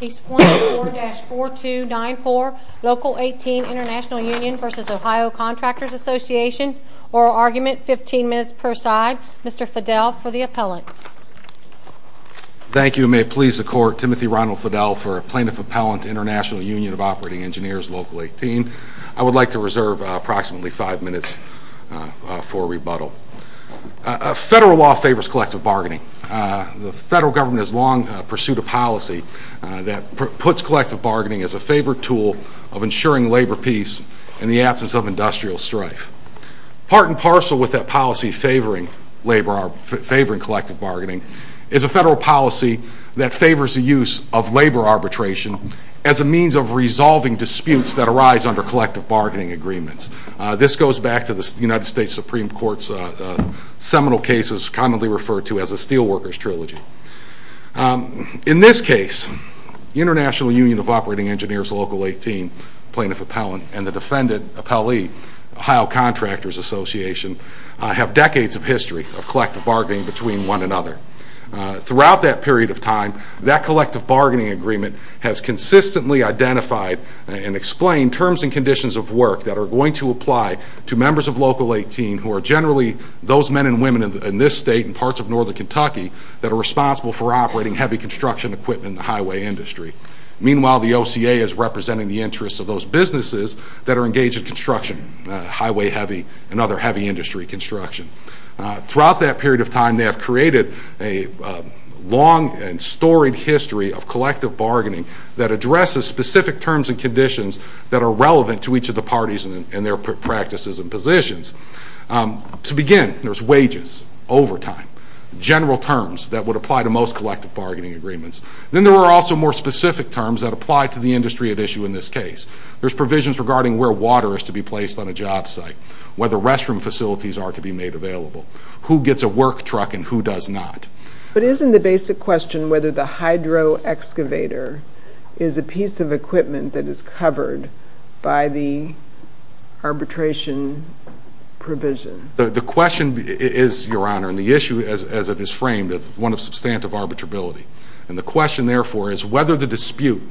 Case 104-4294, Local 18 International Union v. Ohio Contractors Association. Oral argument, 15 minutes per side. Mr. Fidel for the appellate. Thank you, and may it please the Court, Timothy Ronald Fidel for Plaintiff Appellant, International Union of Operating Engineers, Local 18. I would like to reserve approximately 5 minutes for rebuttal. Federal law favors collective bargaining. The federal government has long pursued a policy that puts collective bargaining as a favored tool of ensuring labor peace in the absence of industrial strife. Part and parcel with that policy favoring collective bargaining is a federal policy that favors the use of labor arbitration as a means of resolving disputes that arise under collective bargaining agreements. This goes back to the United States Supreme Court's seminal cases commonly referred to as the Steelworkers Trilogy. In this case, the International Union of Operating Engineers, Local 18, Plaintiff Appellant, and the defendant, appellee, Ohio Contractors Association, have decades of history of collective bargaining between one another. Throughout that period of time, that collective bargaining agreement has consistently identified and explained terms and conditions of work that are going to apply to members of Local 18 who are generally those men and women in this state and parts of northern Kentucky that are responsible for operating heavy construction equipment in the highway industry. Meanwhile, the OCA is representing the interests of those businesses that are engaged in construction, highway heavy and other heavy industry construction. Throughout that period of time, they have created a long and storied history of collective bargaining that addresses specific terms and conditions that are relevant to each of the parties and their practices and positions. To begin, there's wages, overtime, general terms that would apply to most collective bargaining agreements. Then there are also more specific terms that apply to the industry at issue in this case. There's provisions regarding where water is to be placed on a job site, where the restroom facilities are to be made available, who gets a work truck and who does not. But isn't the basic question whether the hydro excavator is a piece of equipment that is covered by the arbitration provision? The question is, Your Honor, and the issue as it is framed is one of substantive arbitrability. And the question, therefore, is whether the dispute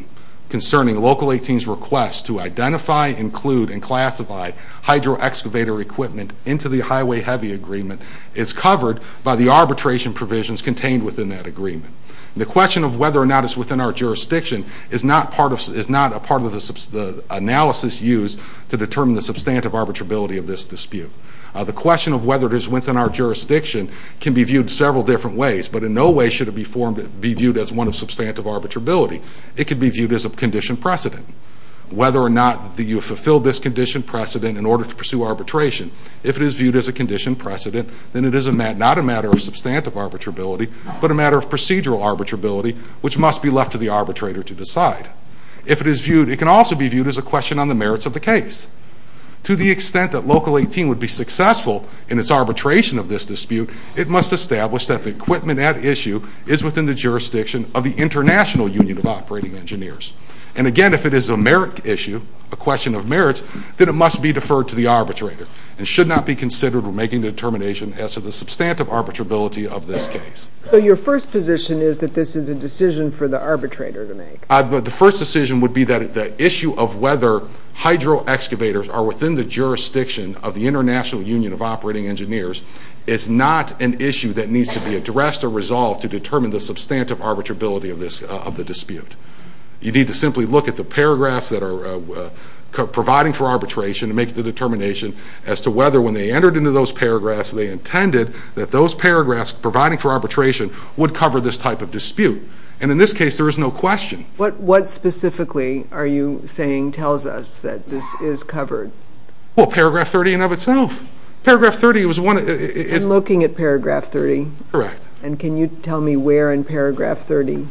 concerning Local 18's request to identify, include and classify hydro excavator equipment into the highway heavy agreement is covered by the arbitration provisions contained within that agreement. The question of whether or not it's within our jurisdiction is not a part of the analysis used to determine the substantive arbitrability of this dispute. The question of whether it is within our jurisdiction can be viewed several different ways, but in no way should it be viewed as one of substantive arbitrability. It could be viewed as a condition precedent. Whether or not you have fulfilled this condition precedent in order to pursue arbitration, if it is viewed as a condition precedent, then it is not a matter of substantive arbitrability, but a matter of procedural arbitrability, which must be left to the arbitrator to decide. If it is viewed, it can also be viewed as a question on the merits of the case. To the extent that Local 18 would be successful in its arbitration of this dispute, it must establish that the equipment at issue is within the jurisdiction of the International Union of Operating Engineers. And again, if it is a merit issue, a question of merits, then it must be deferred to the arbitrator and should not be considered when making the determination as to the substantive arbitrability of this case. So your first position is that this is a decision for the arbitrator to make? The first decision would be that the issue of whether hydro-excavators are within the jurisdiction of the International Union of Operating Engineers is not an issue that needs to be addressed or resolved to determine the substantive arbitrability of the dispute. You need to simply look at the paragraphs that are providing for arbitration and make the determination as to whether, when they entered into those paragraphs, they intended that those paragraphs providing for arbitration would cover this type of dispute. And in this case, there is no question. What specifically are you saying tells us that this is covered? Well, paragraph 30 in and of itself. I'm looking at paragraph 30. Correct. And can you tell me where in paragraph 30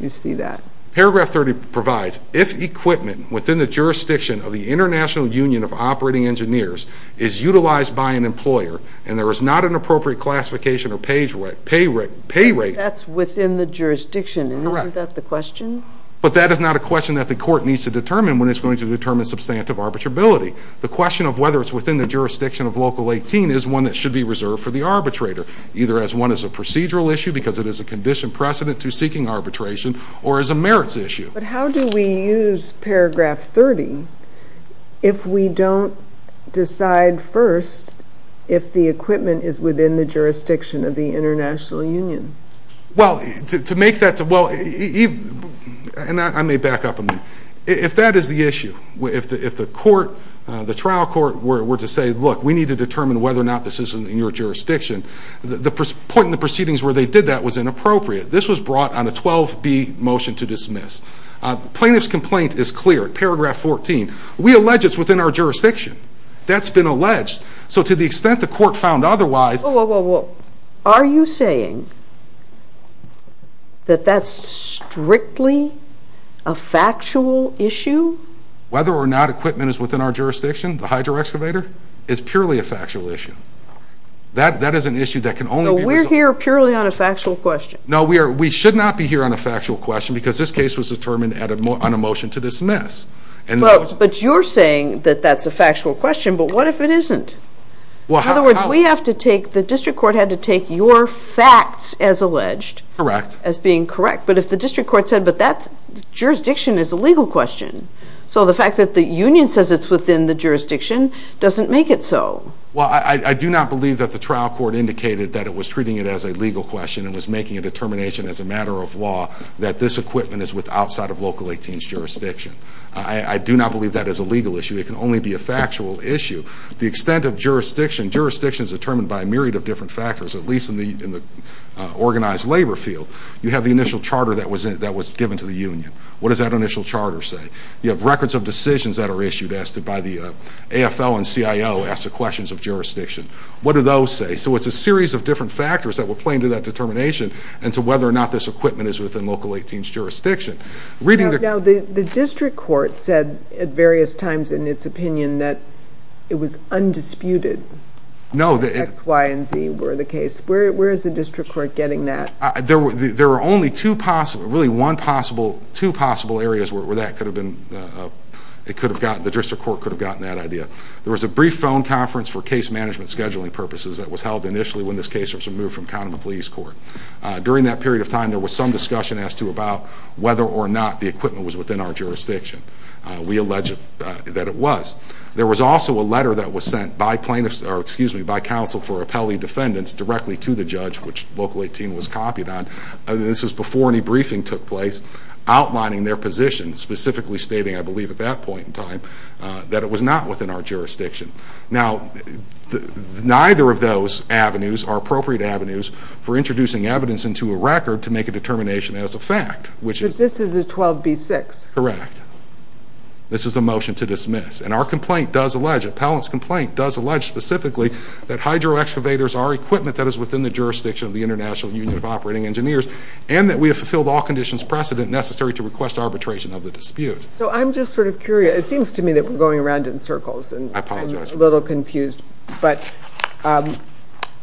you see that? Paragraph 30 provides, if equipment within the jurisdiction of the International Union of Operating Engineers is utilized by an employer and there is not an appropriate classification or pay rate. That's within the jurisdiction, and isn't that the question? Correct. But that is not a question that the court needs to determine when it's going to determine substantive arbitrability. The question of whether it's within the jurisdiction of Local 18 is one that should be reserved for the arbitrator, either as one as a procedural issue, because it is a condition precedent to seeking arbitration, or as a merits issue. But how do we use paragraph 30 if we don't decide first if the equipment is within the jurisdiction of the International Union? Well, to make that... And I may back up a minute. If that is the issue, if the trial court were to say, look, we need to determine whether or not this is in your jurisdiction, the point in the proceedings where they did that was inappropriate. This was brought on a 12B motion to dismiss. The plaintiff's complaint is clear. Paragraph 14. We allege it's within our jurisdiction. That's been alleged. So to the extent the court found otherwise... Whoa, whoa, whoa. Are you saying that that's strictly a factual issue? Whether or not equipment is within our jurisdiction, the hydro excavator, is purely a factual issue. That is an issue that can only be resolved... No, we should not be here on a factual question because this case was determined on a motion to dismiss. But you're saying that that's a factual question, but what if it isn't? In other words, the district court had to take your facts as alleged as being correct. But if the district court said, but that jurisdiction is a legal question, so the fact that the Union says it's within the jurisdiction doesn't make it so. Well, I do not believe that the trial court indicated that it was treating it as a legal question and was making a determination as a matter of law that this equipment is outside of Local 18's jurisdiction. I do not believe that is a legal issue. It can only be a factual issue. The extent of jurisdiction... Jurisdiction is determined by a myriad of different factors, at least in the organized labor field. You have the initial charter that was given to the Union. What does that initial charter say? You have records of decisions that are issued by the AFL and CIO as to questions of jurisdiction. What do those say? So it's a series of different factors that were playing to that determination and to whether or not this equipment is within Local 18's jurisdiction. Now, the district court said at various times in its opinion that it was undisputed. No. X, Y, and Z were the case. Where is the district court getting that? There are only two possible... really, one possible... two possible areas where that could have been... the district court could have gotten that idea. There was a brief phone conference for case management scheduling purposes that was held initially when this case was removed from Kahneman Police Court. During that period of time, there was some discussion as to about whether or not the equipment was within our jurisdiction. We allege that it was. There was also a letter that was sent by plaintiffs... or, excuse me, by counsel for appellee defendants directly to the judge, which Local 18 was copied on. This was before any briefing took place outlining their position, specifically stating, I believe, at that point in time that it was not within our jurisdiction. Now, neither of those avenues are appropriate avenues for introducing evidence into a record to make a determination as a fact, which is... But this is a 12B6. Correct. This is a motion to dismiss. And our complaint does allege... Appellant's complaint does allege specifically that hydro excavators are equipment that is within the jurisdiction of the International Union of Operating Engineers and that we have fulfilled all conditions precedent necessary to request arbitration of the dispute. So, I'm just sort of curious. It seems to me that we're going around in circles. I apologize. I'm a little confused. But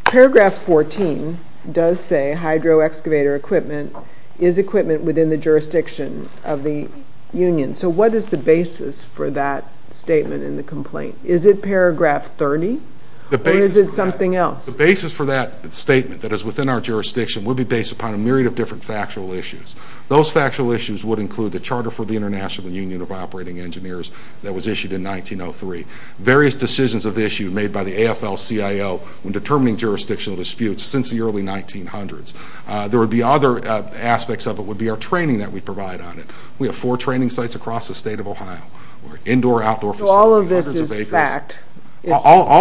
Paragraph 14 does say hydro excavator equipment is equipment within the jurisdiction of the union. So, what is the basis for that statement in the complaint? Is it Paragraph 30? Or is it something else? The basis for that statement that is within our jurisdiction would be based upon a myriad of different factual issues. Those factual issues would include the Charter for the International Union of Operating Engineers that was issued in 1903, various decisions of issue made by the AFL-CIO when determining jurisdictional disputes since the early 1900s. There would be other aspects of it. It would be our training that we provide on it. We have four training sites across the state of Ohio. We have indoor, outdoor facilities, hundreds of acres. So, all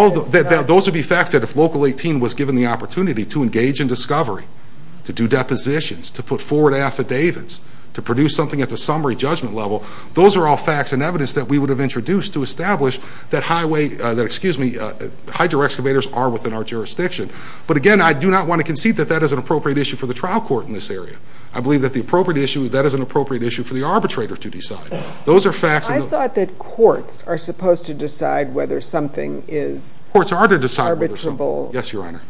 of this is fact? Those would be facts that if Local 18 was given the opportunity to engage in discovery, to do depositions, to put forward affidavits, to produce something at the summary judgment level, those are all facts and evidence that we would have introduced to establish that hydro-excavators are within our jurisdiction. But again, I do not want to concede that that is an appropriate issue for the trial court in this area. I believe that that is an appropriate issue for the arbitrator to decide. I thought that courts are supposed to decide whether something is arbitrable. Courts are to decide whether something is arbitrable. Yes, Your Honor.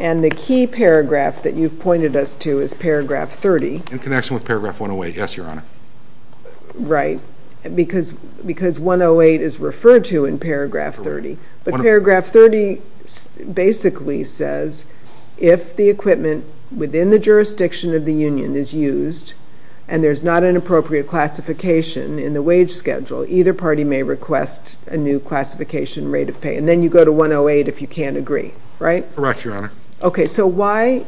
And the key paragraph that you've pointed us to is Paragraph 30. In connection with Paragraph 108. Yes, Your Honor. Right, because 108 is referred to in Paragraph 30. But Paragraph 30 basically says if the equipment within the jurisdiction of the union is used and there's not an appropriate classification in the wage schedule, either party may request a new classification rate of pay. And then you go to 108 if you can't agree, right? Correct, Your Honor. Okay, so why...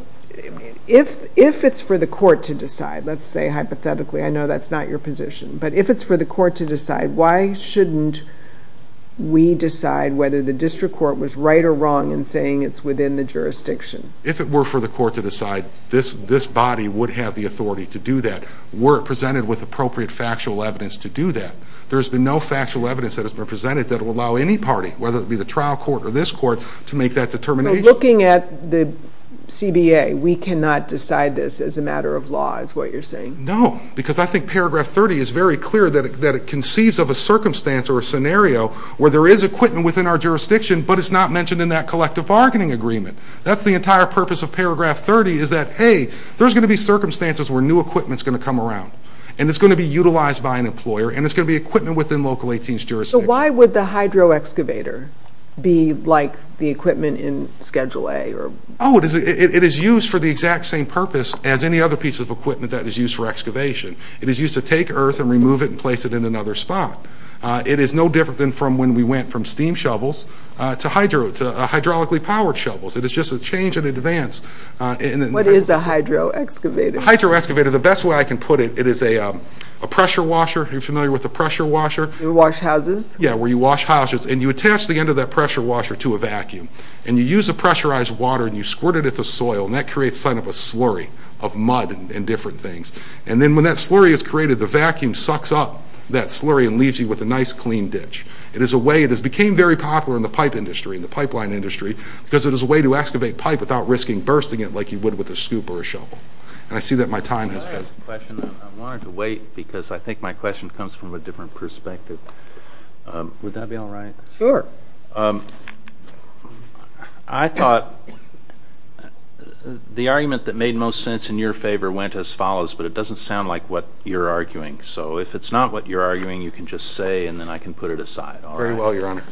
If it's for the court to decide, let's say hypothetically, I know that's not your position, but if it's for the court to decide, why shouldn't we decide whether the district court was right or wrong in saying it's within the jurisdiction? If it were for the court to decide, this body would have the authority to do that were it presented with appropriate factual evidence to do that. There's been no factual evidence that has been presented that will allow any party, whether it be the trial court or this court, to make that determination. So looking at the CBA, we cannot decide this as a matter of law is what you're saying? No, because I think Paragraph 30 is very clear that it conceives of a circumstance or a scenario where there is equipment within our jurisdiction, but it's not mentioned in that collective bargaining agreement. That's the entire purpose of Paragraph 30 is that, hey, there's going to be circumstances where new equipment's going to come around, and it's going to be utilized by an employer, and it's going to be equipment within Local 18's jurisdiction. So why would the hydroexcavator be like the equipment in Schedule A? Oh, it is used for the exact same purpose as any other piece of equipment that is used for excavation. It is used to take earth and remove it and place it in another spot. It is no different than when we went from steam shovels to hydraulically powered shovels. It is just a change in advance. What is a hydroexcavator? A hydroexcavator, the best way I can put it, it is a pressure washer. Are you familiar with a pressure washer? You wash houses? Yeah, where you wash houses, and you attach the end of that pressure washer to a vacuum, and you use the pressurized water, and you squirt it at the soil, and that creates a sign of a slurry of mud and different things. And then when that slurry is created, the vacuum sucks up that slurry and leaves you with a nice clean ditch. It became very popular in the pipe industry, in the pipeline industry, because it is a way to excavate pipe without risking bursting it like you would with a scoop or a shovel. And I see that my time has passed. I wanted to wait, because I think my question comes from a different perspective. Would that be all right? Sure. I thought the argument that made most sense in your favor went as follows, but it doesn't sound like what you are arguing. So if it is not what you are arguing, you can just say, and then I can put it aside. Very well, Your Honor.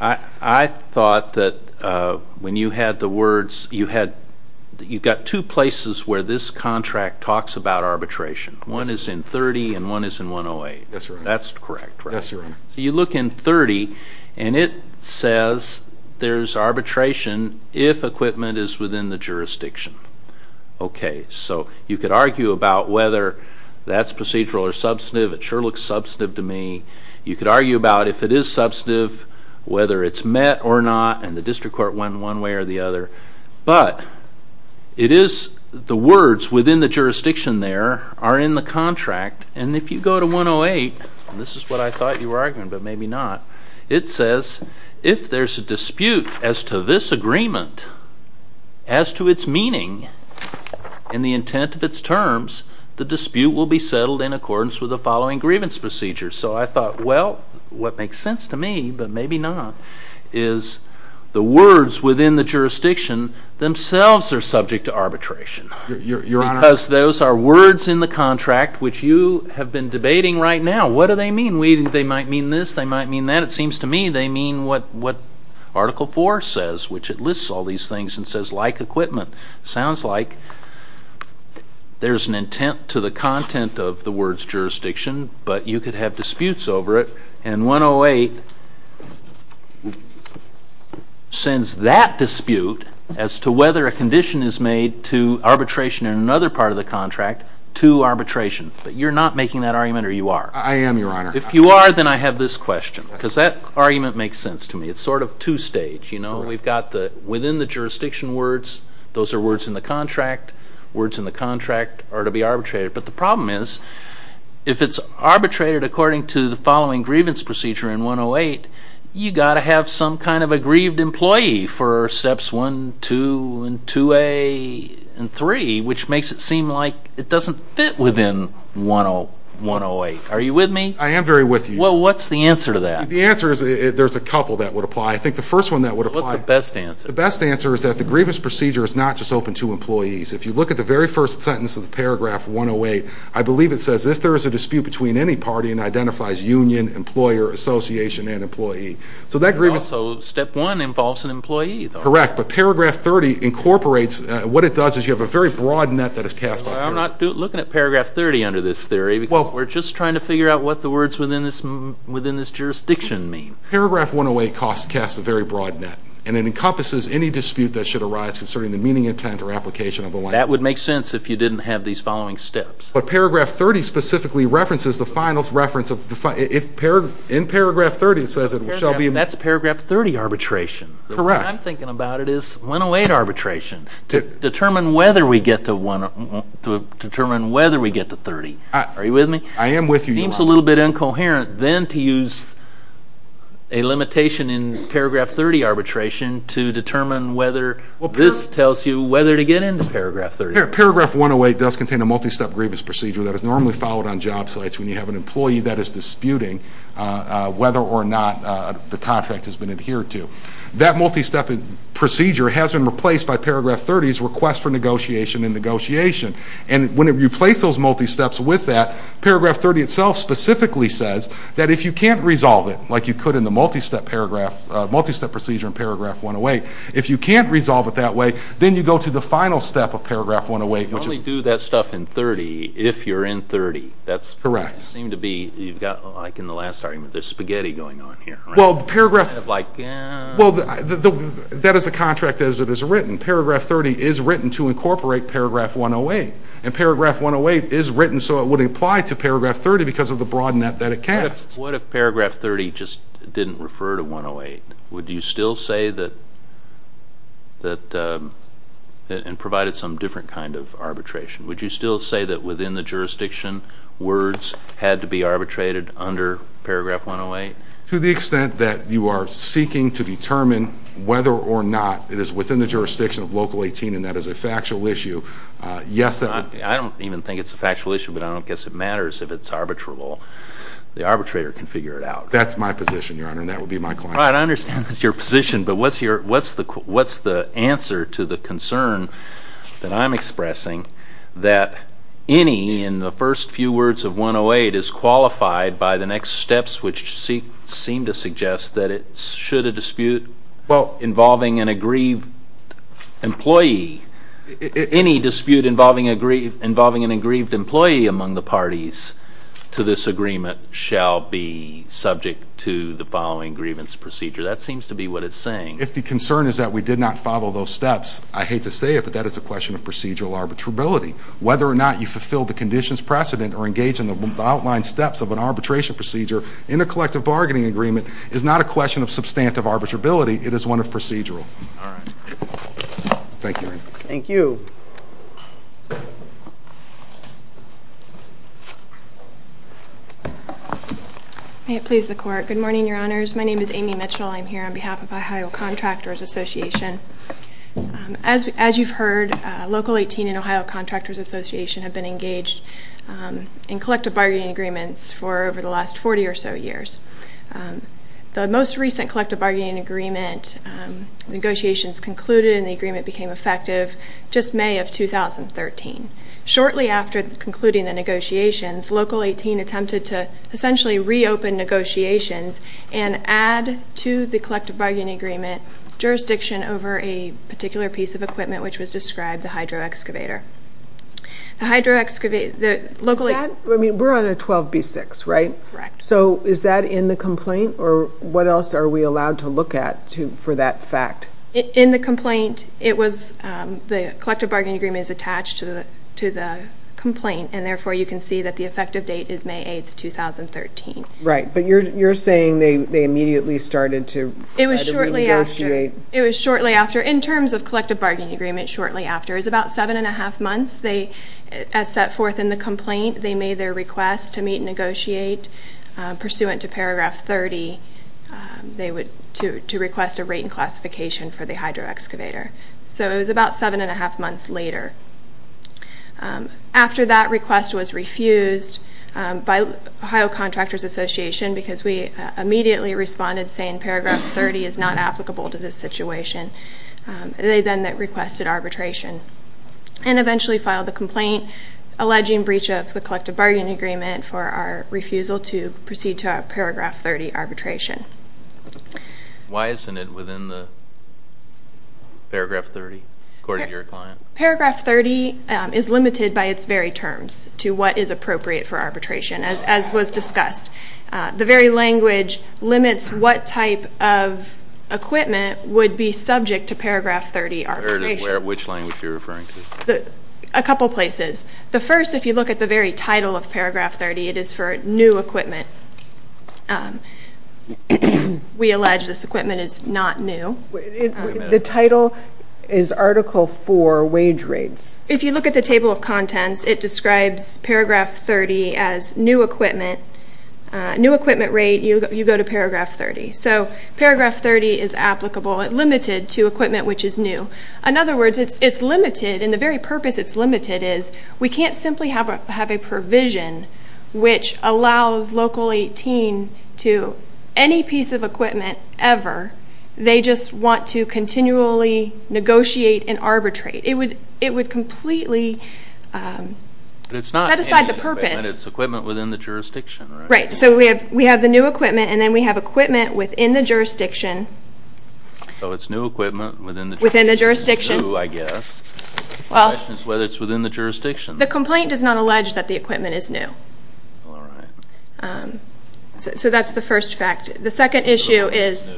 I thought that when you had the words, you've got two places where this contract talks about arbitration. One is in 30, and one is in 108. That's correct, right? So you look in 30, and it says there's arbitration if equipment is within the jurisdiction. Okay, so you could argue about whether that's procedural or substantive. It sure looks substantive to me. You could argue about if it is substantive, whether it's met or not, and the district court won one way or the other. But the words within the jurisdiction there are in the contract, and if you go to 108, and this is what I thought you were arguing, but maybe not, it says if there's a dispute as to this agreement, as to its meaning, and the intent of its terms, the dispute will be settled in accordance with the following grievance procedure. So I thought, well, what makes sense to me, but maybe not, is the words within the jurisdiction themselves are subject to arbitration. Your Honor? Because those are words in the contract which you have been debating right now. What do they mean? They might mean this, they might mean that. It seems to me they mean what Article 4 says, which it lists all these things and says, like equipment. Sounds like there's an intent to the content of the words jurisdiction, but you could have disputes over it, and 108 sends that dispute as to whether a condition is made to arbitration in another part of the contract to arbitration. But you're not making that argument, or you are? I am, Your Honor. If you are, then I have this question, because that argument makes sense to me. It's sort of two-stage, you know. We've got the within the jurisdiction words, those are words in the contract, words in the contract are to be arbitrated, but the problem is if it's arbitrated according to the following grievance procedure in 108, you've got to have some kind of a grieved employee for Steps 1, 2, 2A, and 3, which makes it seem like it doesn't fit within 108. Are you with me? I am very with you. Well, what's the answer to that? The answer is, there's a couple that would apply. I think the first one that would apply... What's the best answer? The best answer is that the grievance procedure is not just open to employees. If you look at the very first sentence of the paragraph 108, I believe it says, if there is a dispute between any party and identifies union, employer, association, and employee. So that grievance... Also, Step 1 involves an employee, though. Correct, but paragraph 30 incorporates, what it does is you have a very broad net that is cast by... I'm not looking at paragraph 30 under this theory, because we're just trying to figure out what the words within this jurisdiction mean. Paragraph 108 casts a very broad net, and it encompasses any dispute that should arise concerning the meaning, intent, or application of the language. That would make sense if you didn't have these following steps. But paragraph 30 specifically references the final reference of... In paragraph 30, it says it shall be... That's paragraph 30 arbitration. Correct. What I'm thinking about is 108 arbitration to determine whether we get to 30. Are you with me? I am with you, Your Honor. It seems a little bit incoherent, then, to use a limitation in paragraph 30 arbitration to determine whether... Paragraph 108 does contain a multi-step grievance procedure that is normally followed on job sites when you have an employee that is disputing whether or not the contract has been adhered to. That multi-step procedure has been replaced by paragraph 30's request for negotiation and negotiation. And when you replace those multi-steps with that, paragraph 30 itself specifically says that if you can't resolve it, like you could in the multi-step procedure in paragraph 108, if you can't resolve it that way, then you go to the final step of paragraph 108, which is... You only do that stuff in 30 if you're in 30. Correct. That seems to be... You've got, like in the last argument, there's spaghetti going on here. Well, paragraph... Kind of like... Well, that is a contract as it is written. Paragraph 30 is written to incorporate paragraph 108. And paragraph 108 is written so it would apply to paragraph 30 because of the broad net that it casts. What if paragraph 30 just didn't refer to 108? Would you still say that... And provided some different kind of arbitration. Would you still say that within the jurisdiction words had to be arbitrated under paragraph 108? To the extent that you are seeking to determine whether or not it is within the jurisdiction of Local 18 and that is a factual issue, yes, that would... I don't even think it's a factual issue, but I don't guess it matters if it's arbitrable. The arbitrator can figure it out. That's my position, Your Honor, and that would be my client. All right, I understand that's your position, but what's the answer to the concern that I'm expressing that any, in the first few words of 108, is qualified by the next steps which seem to suggest that it should a dispute involving an aggrieved employee... Any dispute involving an aggrieved employee among the parties to this agreement shall be subject to the following grievance procedure. That seems to be what it's saying. If the concern is that we did not follow those steps, I hate to say it, but that is a question of procedural arbitrability. Whether or not you fulfilled the conditions precedent or engaged in the outlined steps of an arbitration procedure in a collective bargaining agreement is not a question of substantive arbitrability. It is one of procedural. All right. Thank you, Your Honor. Thank you. May it please the Court. Good morning, Your Honors. My name is Amy Mitchell. I'm here on behalf of Ohio Contractors Association. As you've heard, Local 18 and Ohio Contractors Association have been engaged in collective bargaining agreements for over the last 40 or so years. The most recent collective bargaining agreement negotiations concluded and the agreement became effective just May of 2013. Shortly after concluding the negotiations, Local 18 attempted to essentially reopen negotiations and add to the collective bargaining agreement jurisdiction over a particular piece of equipment, which was described, the hydroexcavator. The hydroexcavator... We're on a 12B6, right? Correct. So is that in the complaint, or what else are we allowed to look at for that fact? In the complaint, the collective bargaining agreement is attached to the complaint, and therefore you can see that the effective date is May 8, 2013. Right. But you're saying they immediately started to try to renegotiate? It was shortly after. In terms of collective bargaining agreement, shortly after is about 7 1⁄2 months. As set forth in the complaint, they made their request to meet and negotiate. Pursuant to paragraph 30, they would request a rate and classification for the hydroexcavator. So it was about 7 1⁄2 months later. After that request was refused by Ohio Contractors Association because we immediately responded, saying paragraph 30 is not applicable to this situation, they then requested arbitration and eventually filed the complaint alleging breach of the collective bargaining agreement for our refusal to proceed to our paragraph 30 arbitration. Why isn't it within the paragraph 30, according to your client? Paragraph 30 is limited by its very terms to what is appropriate for arbitration, as was discussed. The very language limits what type of equipment would be subject to paragraph 30 arbitration. Which language are you referring to? A couple places. The first, if you look at the very title of paragraph 30, it is for new equipment. We allege this equipment is not new. The title is article 4, wage rates. If you look at the table of contents, it describes paragraph 30 as new equipment. New equipment rate, you go to paragraph 30. So paragraph 30 is applicable, limited to equipment which is new. In other words, it's limited, and the very purpose it's limited is, we can't simply have a provision which allows Local 18 to, any piece of equipment ever, they just want to continually negotiate and arbitrate. It would completely set aside the purpose. But it's not any equipment, it's equipment within the jurisdiction, right? Right, so we have the new equipment, and then we have equipment within the jurisdiction. So it's new equipment within the jurisdiction. Within the jurisdiction. It's new, I guess. The question is whether it's within the jurisdiction. The complaint does not allege that the equipment is new. All right. So that's the first fact. The second issue is,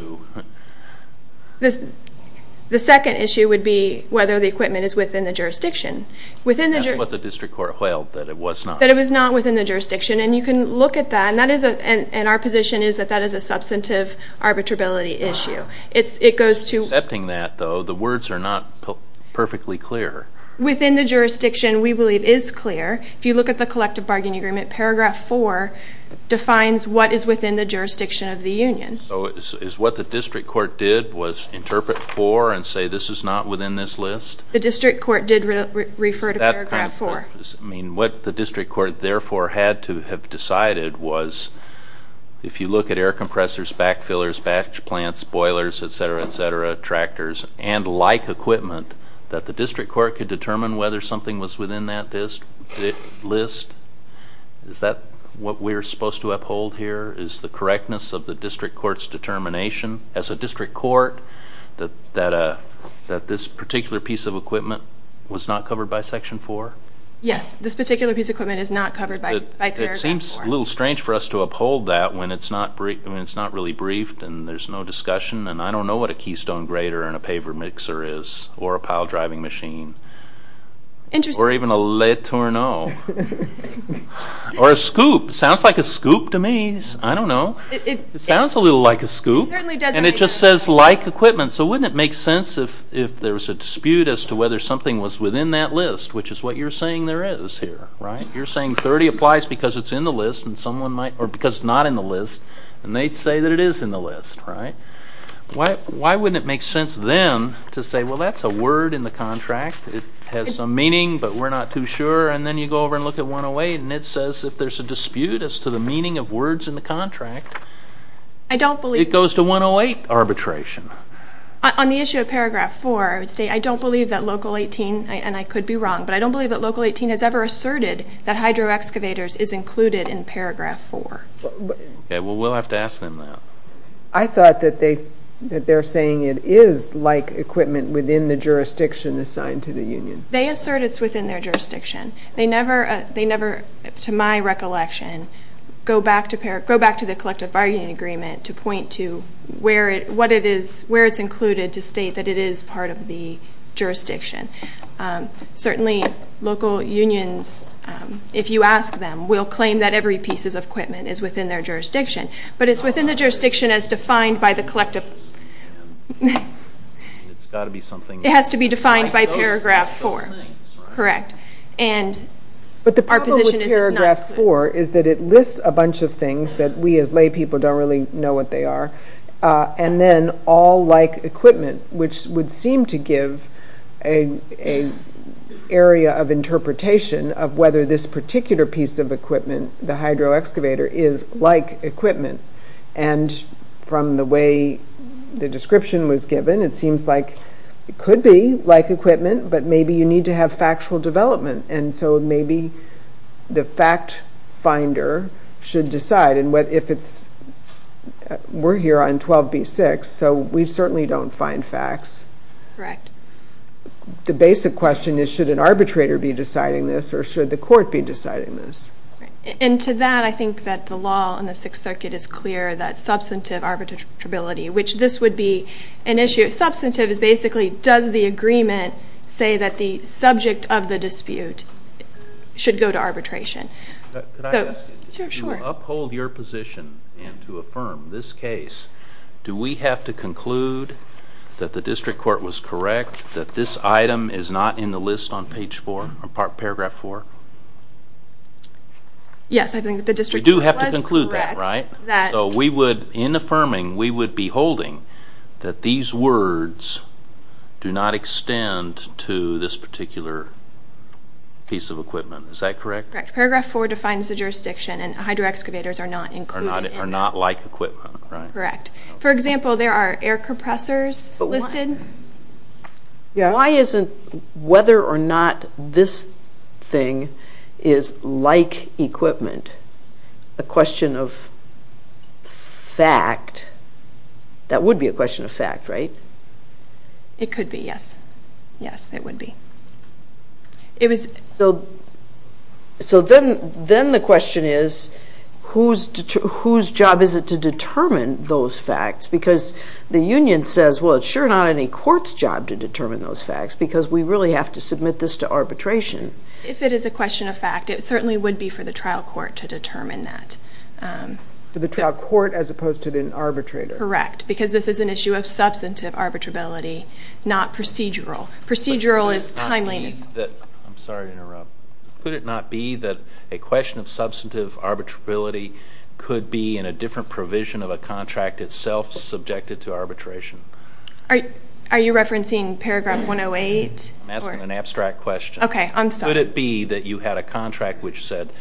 the second issue would be whether the equipment is within the jurisdiction. That's what the district court held, that it was not. That it was not within the jurisdiction, and you can look at that, and our position is that that is a substantive arbitrability issue. Accepting that, though, the words are not perfectly clear. Within the jurisdiction, we believe, is clear. If you look at the collective bargaining agreement, paragraph 4 defines what is within the jurisdiction of the union. So is what the district court did was interpret 4 and say this is not within this list? The district court did refer to paragraph 4. I mean, what the district court, therefore, had to have decided was, if you look at air compressors, back fillers, batch plants, boilers, et cetera, et cetera, tractors, and like equipment, that the district court could determine whether something was within that list? Is that what we're supposed to uphold here, is the correctness of the district court's determination as a district court that this particular piece of equipment was not covered by section 4? Yes, this particular piece of equipment is not covered by paragraph 4. It seems a little strange for us to uphold that when it's not really briefed and there's no discussion, and I don't know what a keystone grater and a paver mixer is, or a pile driving machine. Or even a le tourneau. Or a scoop. It sounds like a scoop to me. I don't know. It sounds a little like a scoop, and it just says like equipment, so wouldn't it make sense if there was a dispute as to whether something was within that list, which is what you're saying there is here, right? You're saying 30 applies because it's in the list and someone might, or because it's not in the list, and they'd say that it is in the list, right? Why wouldn't it make sense then to say, well, that's a word in the contract. It has some meaning, but we're not too sure, and then you go over and look at 108, and it says if there's a dispute as to the meaning of words in the contract, it goes to 108 arbitration. On the issue of paragraph 4, I would say I don't believe that Local 18, and I could be wrong, but I don't believe that Local 18 has ever asserted that hydro excavators is included in paragraph 4. Okay, well, we'll have to ask them that. I thought that they're saying it is like equipment within the jurisdiction assigned to the union. They assert it's within their jurisdiction. They never, to my recollection, go back to the collective bargaining agreement to point to where it's included to state that it is part of the jurisdiction. Certainly, local unions, if you ask them, will claim that every piece of equipment is within their jurisdiction, but it's within the jurisdiction as defined by the collective... It has to be defined by paragraph 4. Correct. But the problem with paragraph 4 is that it lists a bunch of things that we as lay people don't really know what they are, and then all like equipment, which would seem to give an area of interpretation of whether this particular piece of equipment, the hydro excavator, is like equipment. And from the way the description was given, it seems like it could be like equipment, but maybe you need to have factual development, and so maybe the fact finder should decide. And if it's... We're here on 12b-6, so we certainly don't find facts. Correct. The basic question is, should an arbitrator be deciding this, or should the court be deciding this? And to that, I think that the law in the Sixth Circuit is clear, that substantive arbitrability, which this would be an issue. Substantive is basically, does the agreement say that the subject of the dispute should go to arbitration? Could I ask you to uphold your position and to affirm this case? Do we have to conclude that the district court was correct, that this item is not in the list on page 4, or paragraph 4? Yes, I think the district court was correct. So we would, in affirming, we would be holding that these words do not extend to this particular piece of equipment. Is that correct? Correct. Paragraph 4 defines the jurisdiction, and hydro excavators are not included in that. Are not like equipment, right? Correct. For example, there are air compressors listed. Why isn't whether or not this thing is like equipment a question of fact? That would be a question of fact, right? It could be, yes. Yes, it would be. So then the question is, whose job is it to determine those facts? Because the union says, well, it's sure not any court's job to determine those facts, because we really have to submit this to arbitration. If it is a question of fact, it certainly would be for the trial court to determine that. For the trial court as opposed to the arbitrator? Correct, because this is an issue of substantive arbitrability, not procedural. Procedural is timely. Could it not be that, I'm sorry to interrupt, could it not be that a question of substantive arbitrability could be in a different provision of a contract itself subjected to arbitration? Are you referencing paragraph 108? I'm asking an abstract question. Okay, I'm sorry. Could it be that you had a contract which said,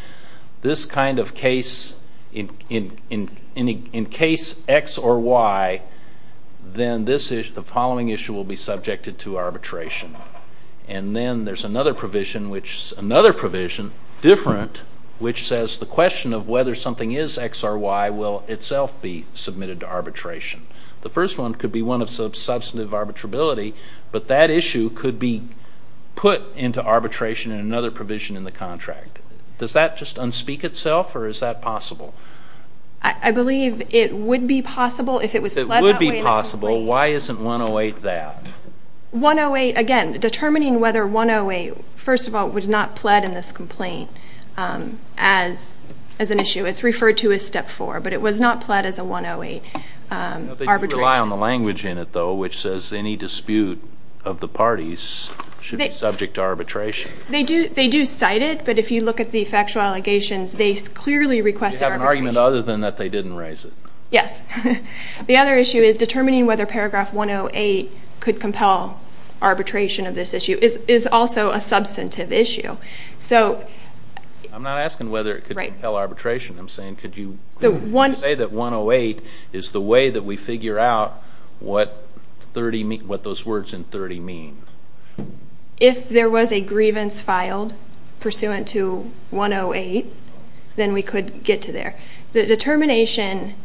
this kind of case, in case X or Y, then the following issue will be subjected to arbitration. And then there's another provision, which is another provision, different, which says the question of whether something is X or Y will itself be submitted to arbitration. The first one could be one of substantive arbitrability, but that issue could be put into arbitration in another provision in the contract. Does that just unspeak itself, or is that possible? I believe it would be possible if it was pled that way. It would be possible. Why isn't 108 that? 108, again, determining whether 108, first of all, was not pled in this complaint as an issue. It's referred to as Step 4, but it was not pled as a 108 arbitration. You rely on the language in it, though, which says any dispute of the parties should be subject to arbitration. They do cite it, but if you look at the factual allegations, they clearly request arbitration. You have an argument other than that they didn't raise it. Yes. The other issue is determining whether paragraph 108 could compel arbitration of this issue is also a substantive issue. I'm not asking whether it could compel arbitration. I'm saying could you say that 108 is the way that we figure out what those words in 30 mean. If there was a grievance filed pursuant to 108, then we could get to there. The determination...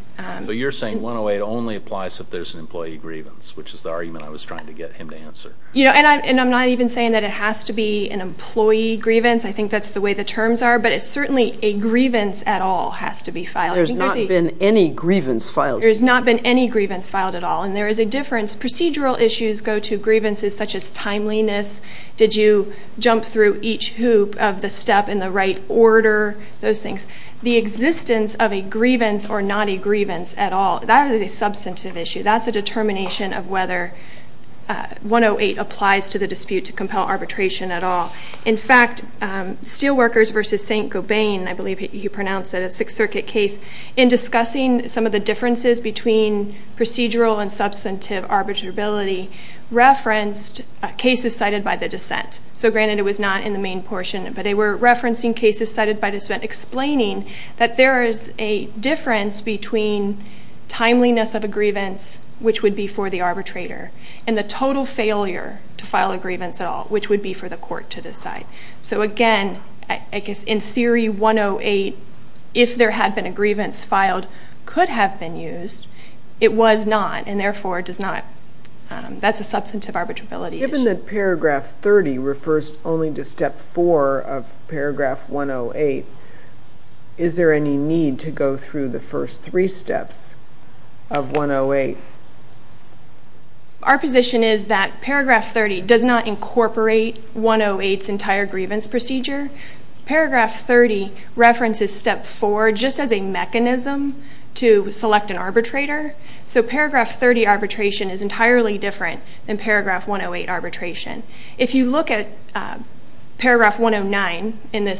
You're saying 108 only applies if there's an employee grievance, which is the argument I was trying to get him to answer. I'm not even saying that it has to be an employee grievance. I think that's the way the terms are, but certainly a grievance at all has to be filed. There's not been any grievance filed. There's not been any grievance filed at all, and there is a difference. Procedural issues go to grievances such as timeliness. Did you jump through each hoop of the step in the right order? Those things. The existence of a grievance or not a grievance at all, that is a substantive issue. That's a determination of whether 108 applies to the dispute to compel arbitration at all. In fact, Steelworkers v. St. Gobain, I believe he pronounced it a Sixth Circuit case, in discussing some of the differences between procedural and substantive arbitrability, referenced cases cited by the dissent. Granted, it was not in the main portion, but they were referencing cases cited by dissent, explaining that there is a difference between timeliness of a grievance, which would be for the arbitrator, and the total failure to file a grievance at all, which would be for the court to decide. So again, I guess in theory, 108, if there had been a grievance filed, could have been used. It was not, and therefore does not. That's a substantive arbitrability issue. Given that Paragraph 30 refers only to Step 4 of Paragraph 108, is there any need to go through the first three steps of 108? Our position is that Paragraph 30 does not incorporate 108's entire grievance procedure. Paragraph 30 references Step 4 just as a mechanism to select an arbitrator. So Paragraph 30 arbitration is entirely different than Paragraph 108 arbitration. If you look at Paragraph 109 in the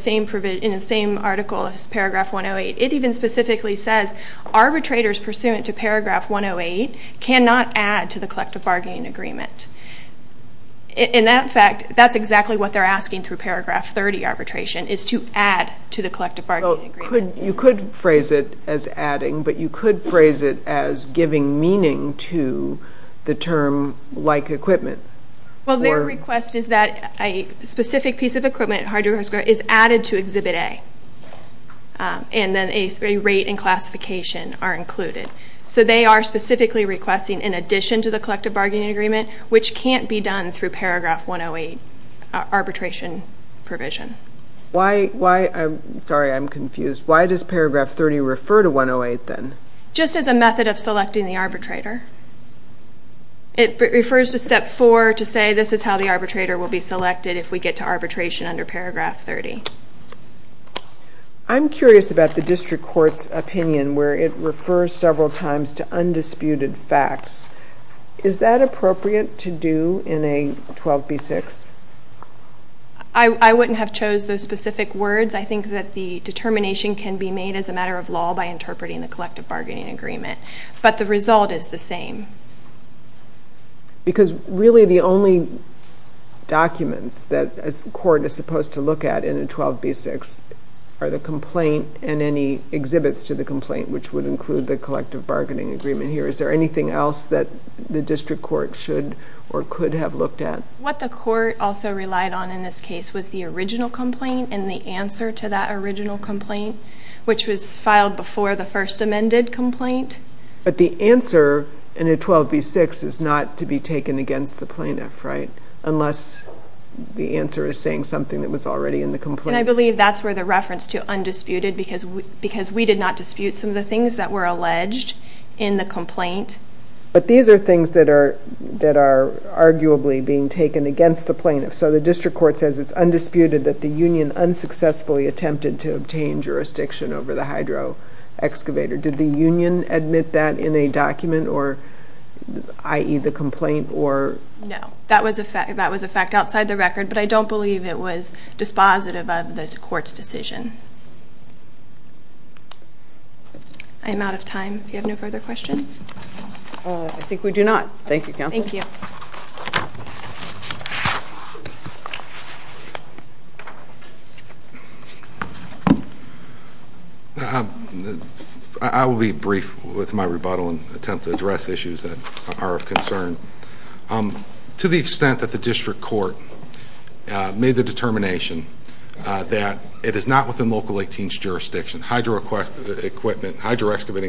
same article as Paragraph 108, it even specifically says, Arbitrators pursuant to Paragraph 108 cannot add to the collective bargaining agreement. In that fact, that's exactly what they're asking through Paragraph 30 arbitration, is to add to the collective bargaining agreement. You could phrase it as adding, but you could phrase it as giving meaning to the term like equipment. Well, their request is that a specific piece of equipment, a hardware or a score, is added to Exhibit A, and then a rate and classification are included. So they are specifically requesting, in addition to the collective bargaining agreement, which can't be done through Paragraph 108 arbitration provision. Sorry, I'm confused. Why does Paragraph 30 refer to 108 then? Just as a method of selecting the arbitrator. It refers to Step 4 to say, this is how the arbitrator will be selected if we get to arbitration under Paragraph 30. I'm curious about the district court's opinion where it refers several times to undisputed facts. Is that appropriate to do in a 12B6? I wouldn't have chose those specific words. I think that the determination can be made as a matter of law by interpreting the collective bargaining agreement. But the result is the same. Because really the only documents that a court is supposed to look at in a 12B6 are the complaint and any exhibits to the complaint, which would include the collective bargaining agreement here. Is there anything else that the district court should or could have looked at? What the court also relied on in this case was the original complaint and the answer to that original complaint, which was filed before the first amended complaint. But the answer in a 12B6 is not to be taken against the plaintiff, right? Unless the answer is saying something that was already in the complaint. And I believe that's where the reference to undisputed, because we did not dispute some of the things that were alleged in the complaint. But these are things that are arguably being taken against the plaintiff. So the district court says it's undisputed that the union unsuccessfully attempted to obtain jurisdiction over the hydro excavator. Did the union admit that in a document, i.e., the complaint? No, that was a fact outside the record, but I don't believe it was dispositive of the court's decision. I am out of time. Do you have any further questions? I think we do not. Thank you, Counsel. Thank you. Thank you. I will be brief with my rebuttal and attempt to address issues that are of concern. To the extent that the district court made the determination that it is not within Local 18's jurisdiction, hydro-excavating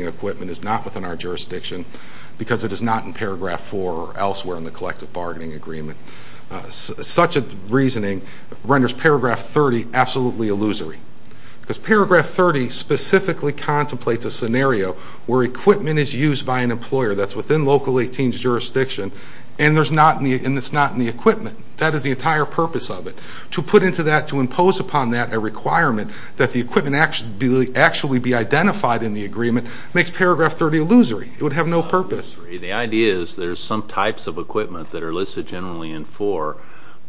equipment is not within our jurisdiction because it is not in Paragraph 4 or elsewhere in the collective bargaining agreement. Such a reasoning renders Paragraph 30 absolutely illusory. Because Paragraph 30 specifically contemplates a scenario where equipment is used by an employer that's within Local 18's jurisdiction and it's not in the equipment. That is the entire purpose of it. To put into that, to impose upon that a requirement that the equipment actually be identified in the agreement makes Paragraph 30 illusory. It would have no purpose. The idea is there's some types of equipment that are listed generally in 4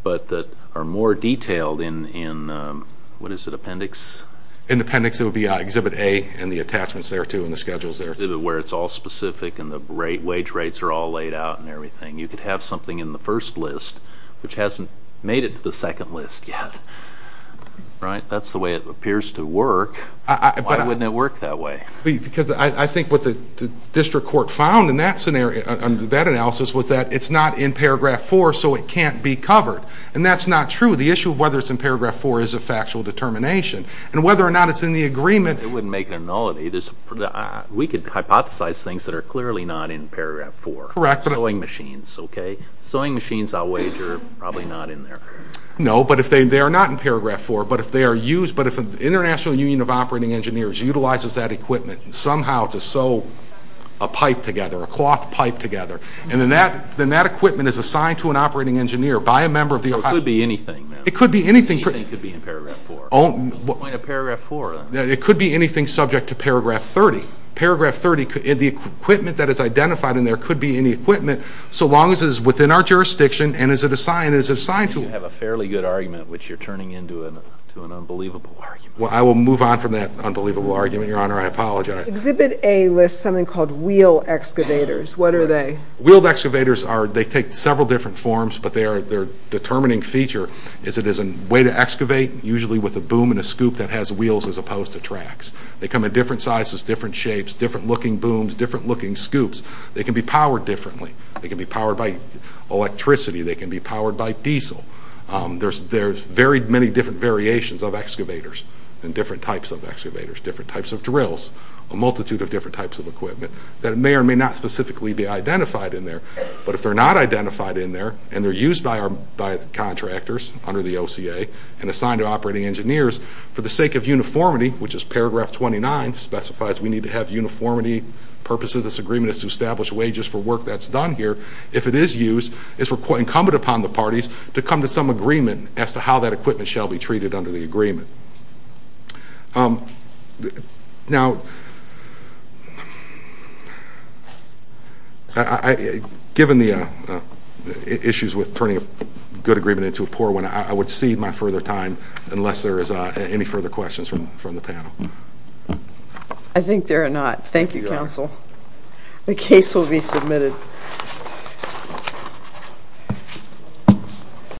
but that are more detailed in what is it, Appendix? In Appendix it would be Exhibit A and the attachments there too and the schedules there too. Where it's all specific and the wage rates are all laid out and everything. You could have something in the first list which hasn't made it to the second list yet. Right? That's the way it appears to work. Why wouldn't it work that way? Because I think what the district court found in that analysis was that it's not in Paragraph 4 so it can't be covered. And that's not true. The issue of whether it's in Paragraph 4 is a factual determination. And whether or not it's in the agreement... It wouldn't make it nullity. We could hypothesize things that are clearly not in Paragraph 4. Sewing machines, okay? Sewing machines I'll wager are probably not in there. No, but if they are not in Paragraph 4 but if the International Union of Operating Engineers utilizes that equipment somehow to sew a pipe together, a cloth pipe together, and then that equipment is assigned to an operating engineer by a member of the... It could be anything. Anything could be in Paragraph 4. It could be anything subject to Paragraph 30. Paragraph 30, the equipment that is identified in there could be any equipment so long as it is within our jurisdiction and is assigned to... You have a fairly good argument which you're turning into an unbelievable argument. I will move on from that unbelievable argument, Your Honor. I apologize. Exhibit A lists something called wheel excavators. What are they? Wheel excavators take several different forms but their determining feature is it is a way to excavate usually with a boom and a scoop that has wheels as opposed to tracks. They come in different sizes, different shapes, different looking booms, different looking scoops. They can be powered differently. They can be powered by electricity. They can be powered by diesel. There's very many different variations of excavators and different types of excavators, different types of drills, a multitude of different types of equipment that may or may not specifically be identified in there. But if they're not identified in there and they're used by contractors under the OCA and assigned to operating engineers for the sake of uniformity, which is Paragraph 29 specifies we need to have uniformity. The purpose of this agreement is to establish wages for work that's done here. If it is used, it's quite incumbent upon the parties to come to some agreement as to how that equipment shall be treated under the agreement. Now, given the issues with turning a good agreement into a poor one, I would cede my further time unless there is any further questions from the panel. I think there are not. Thank you, Counsel. The case will be submitted.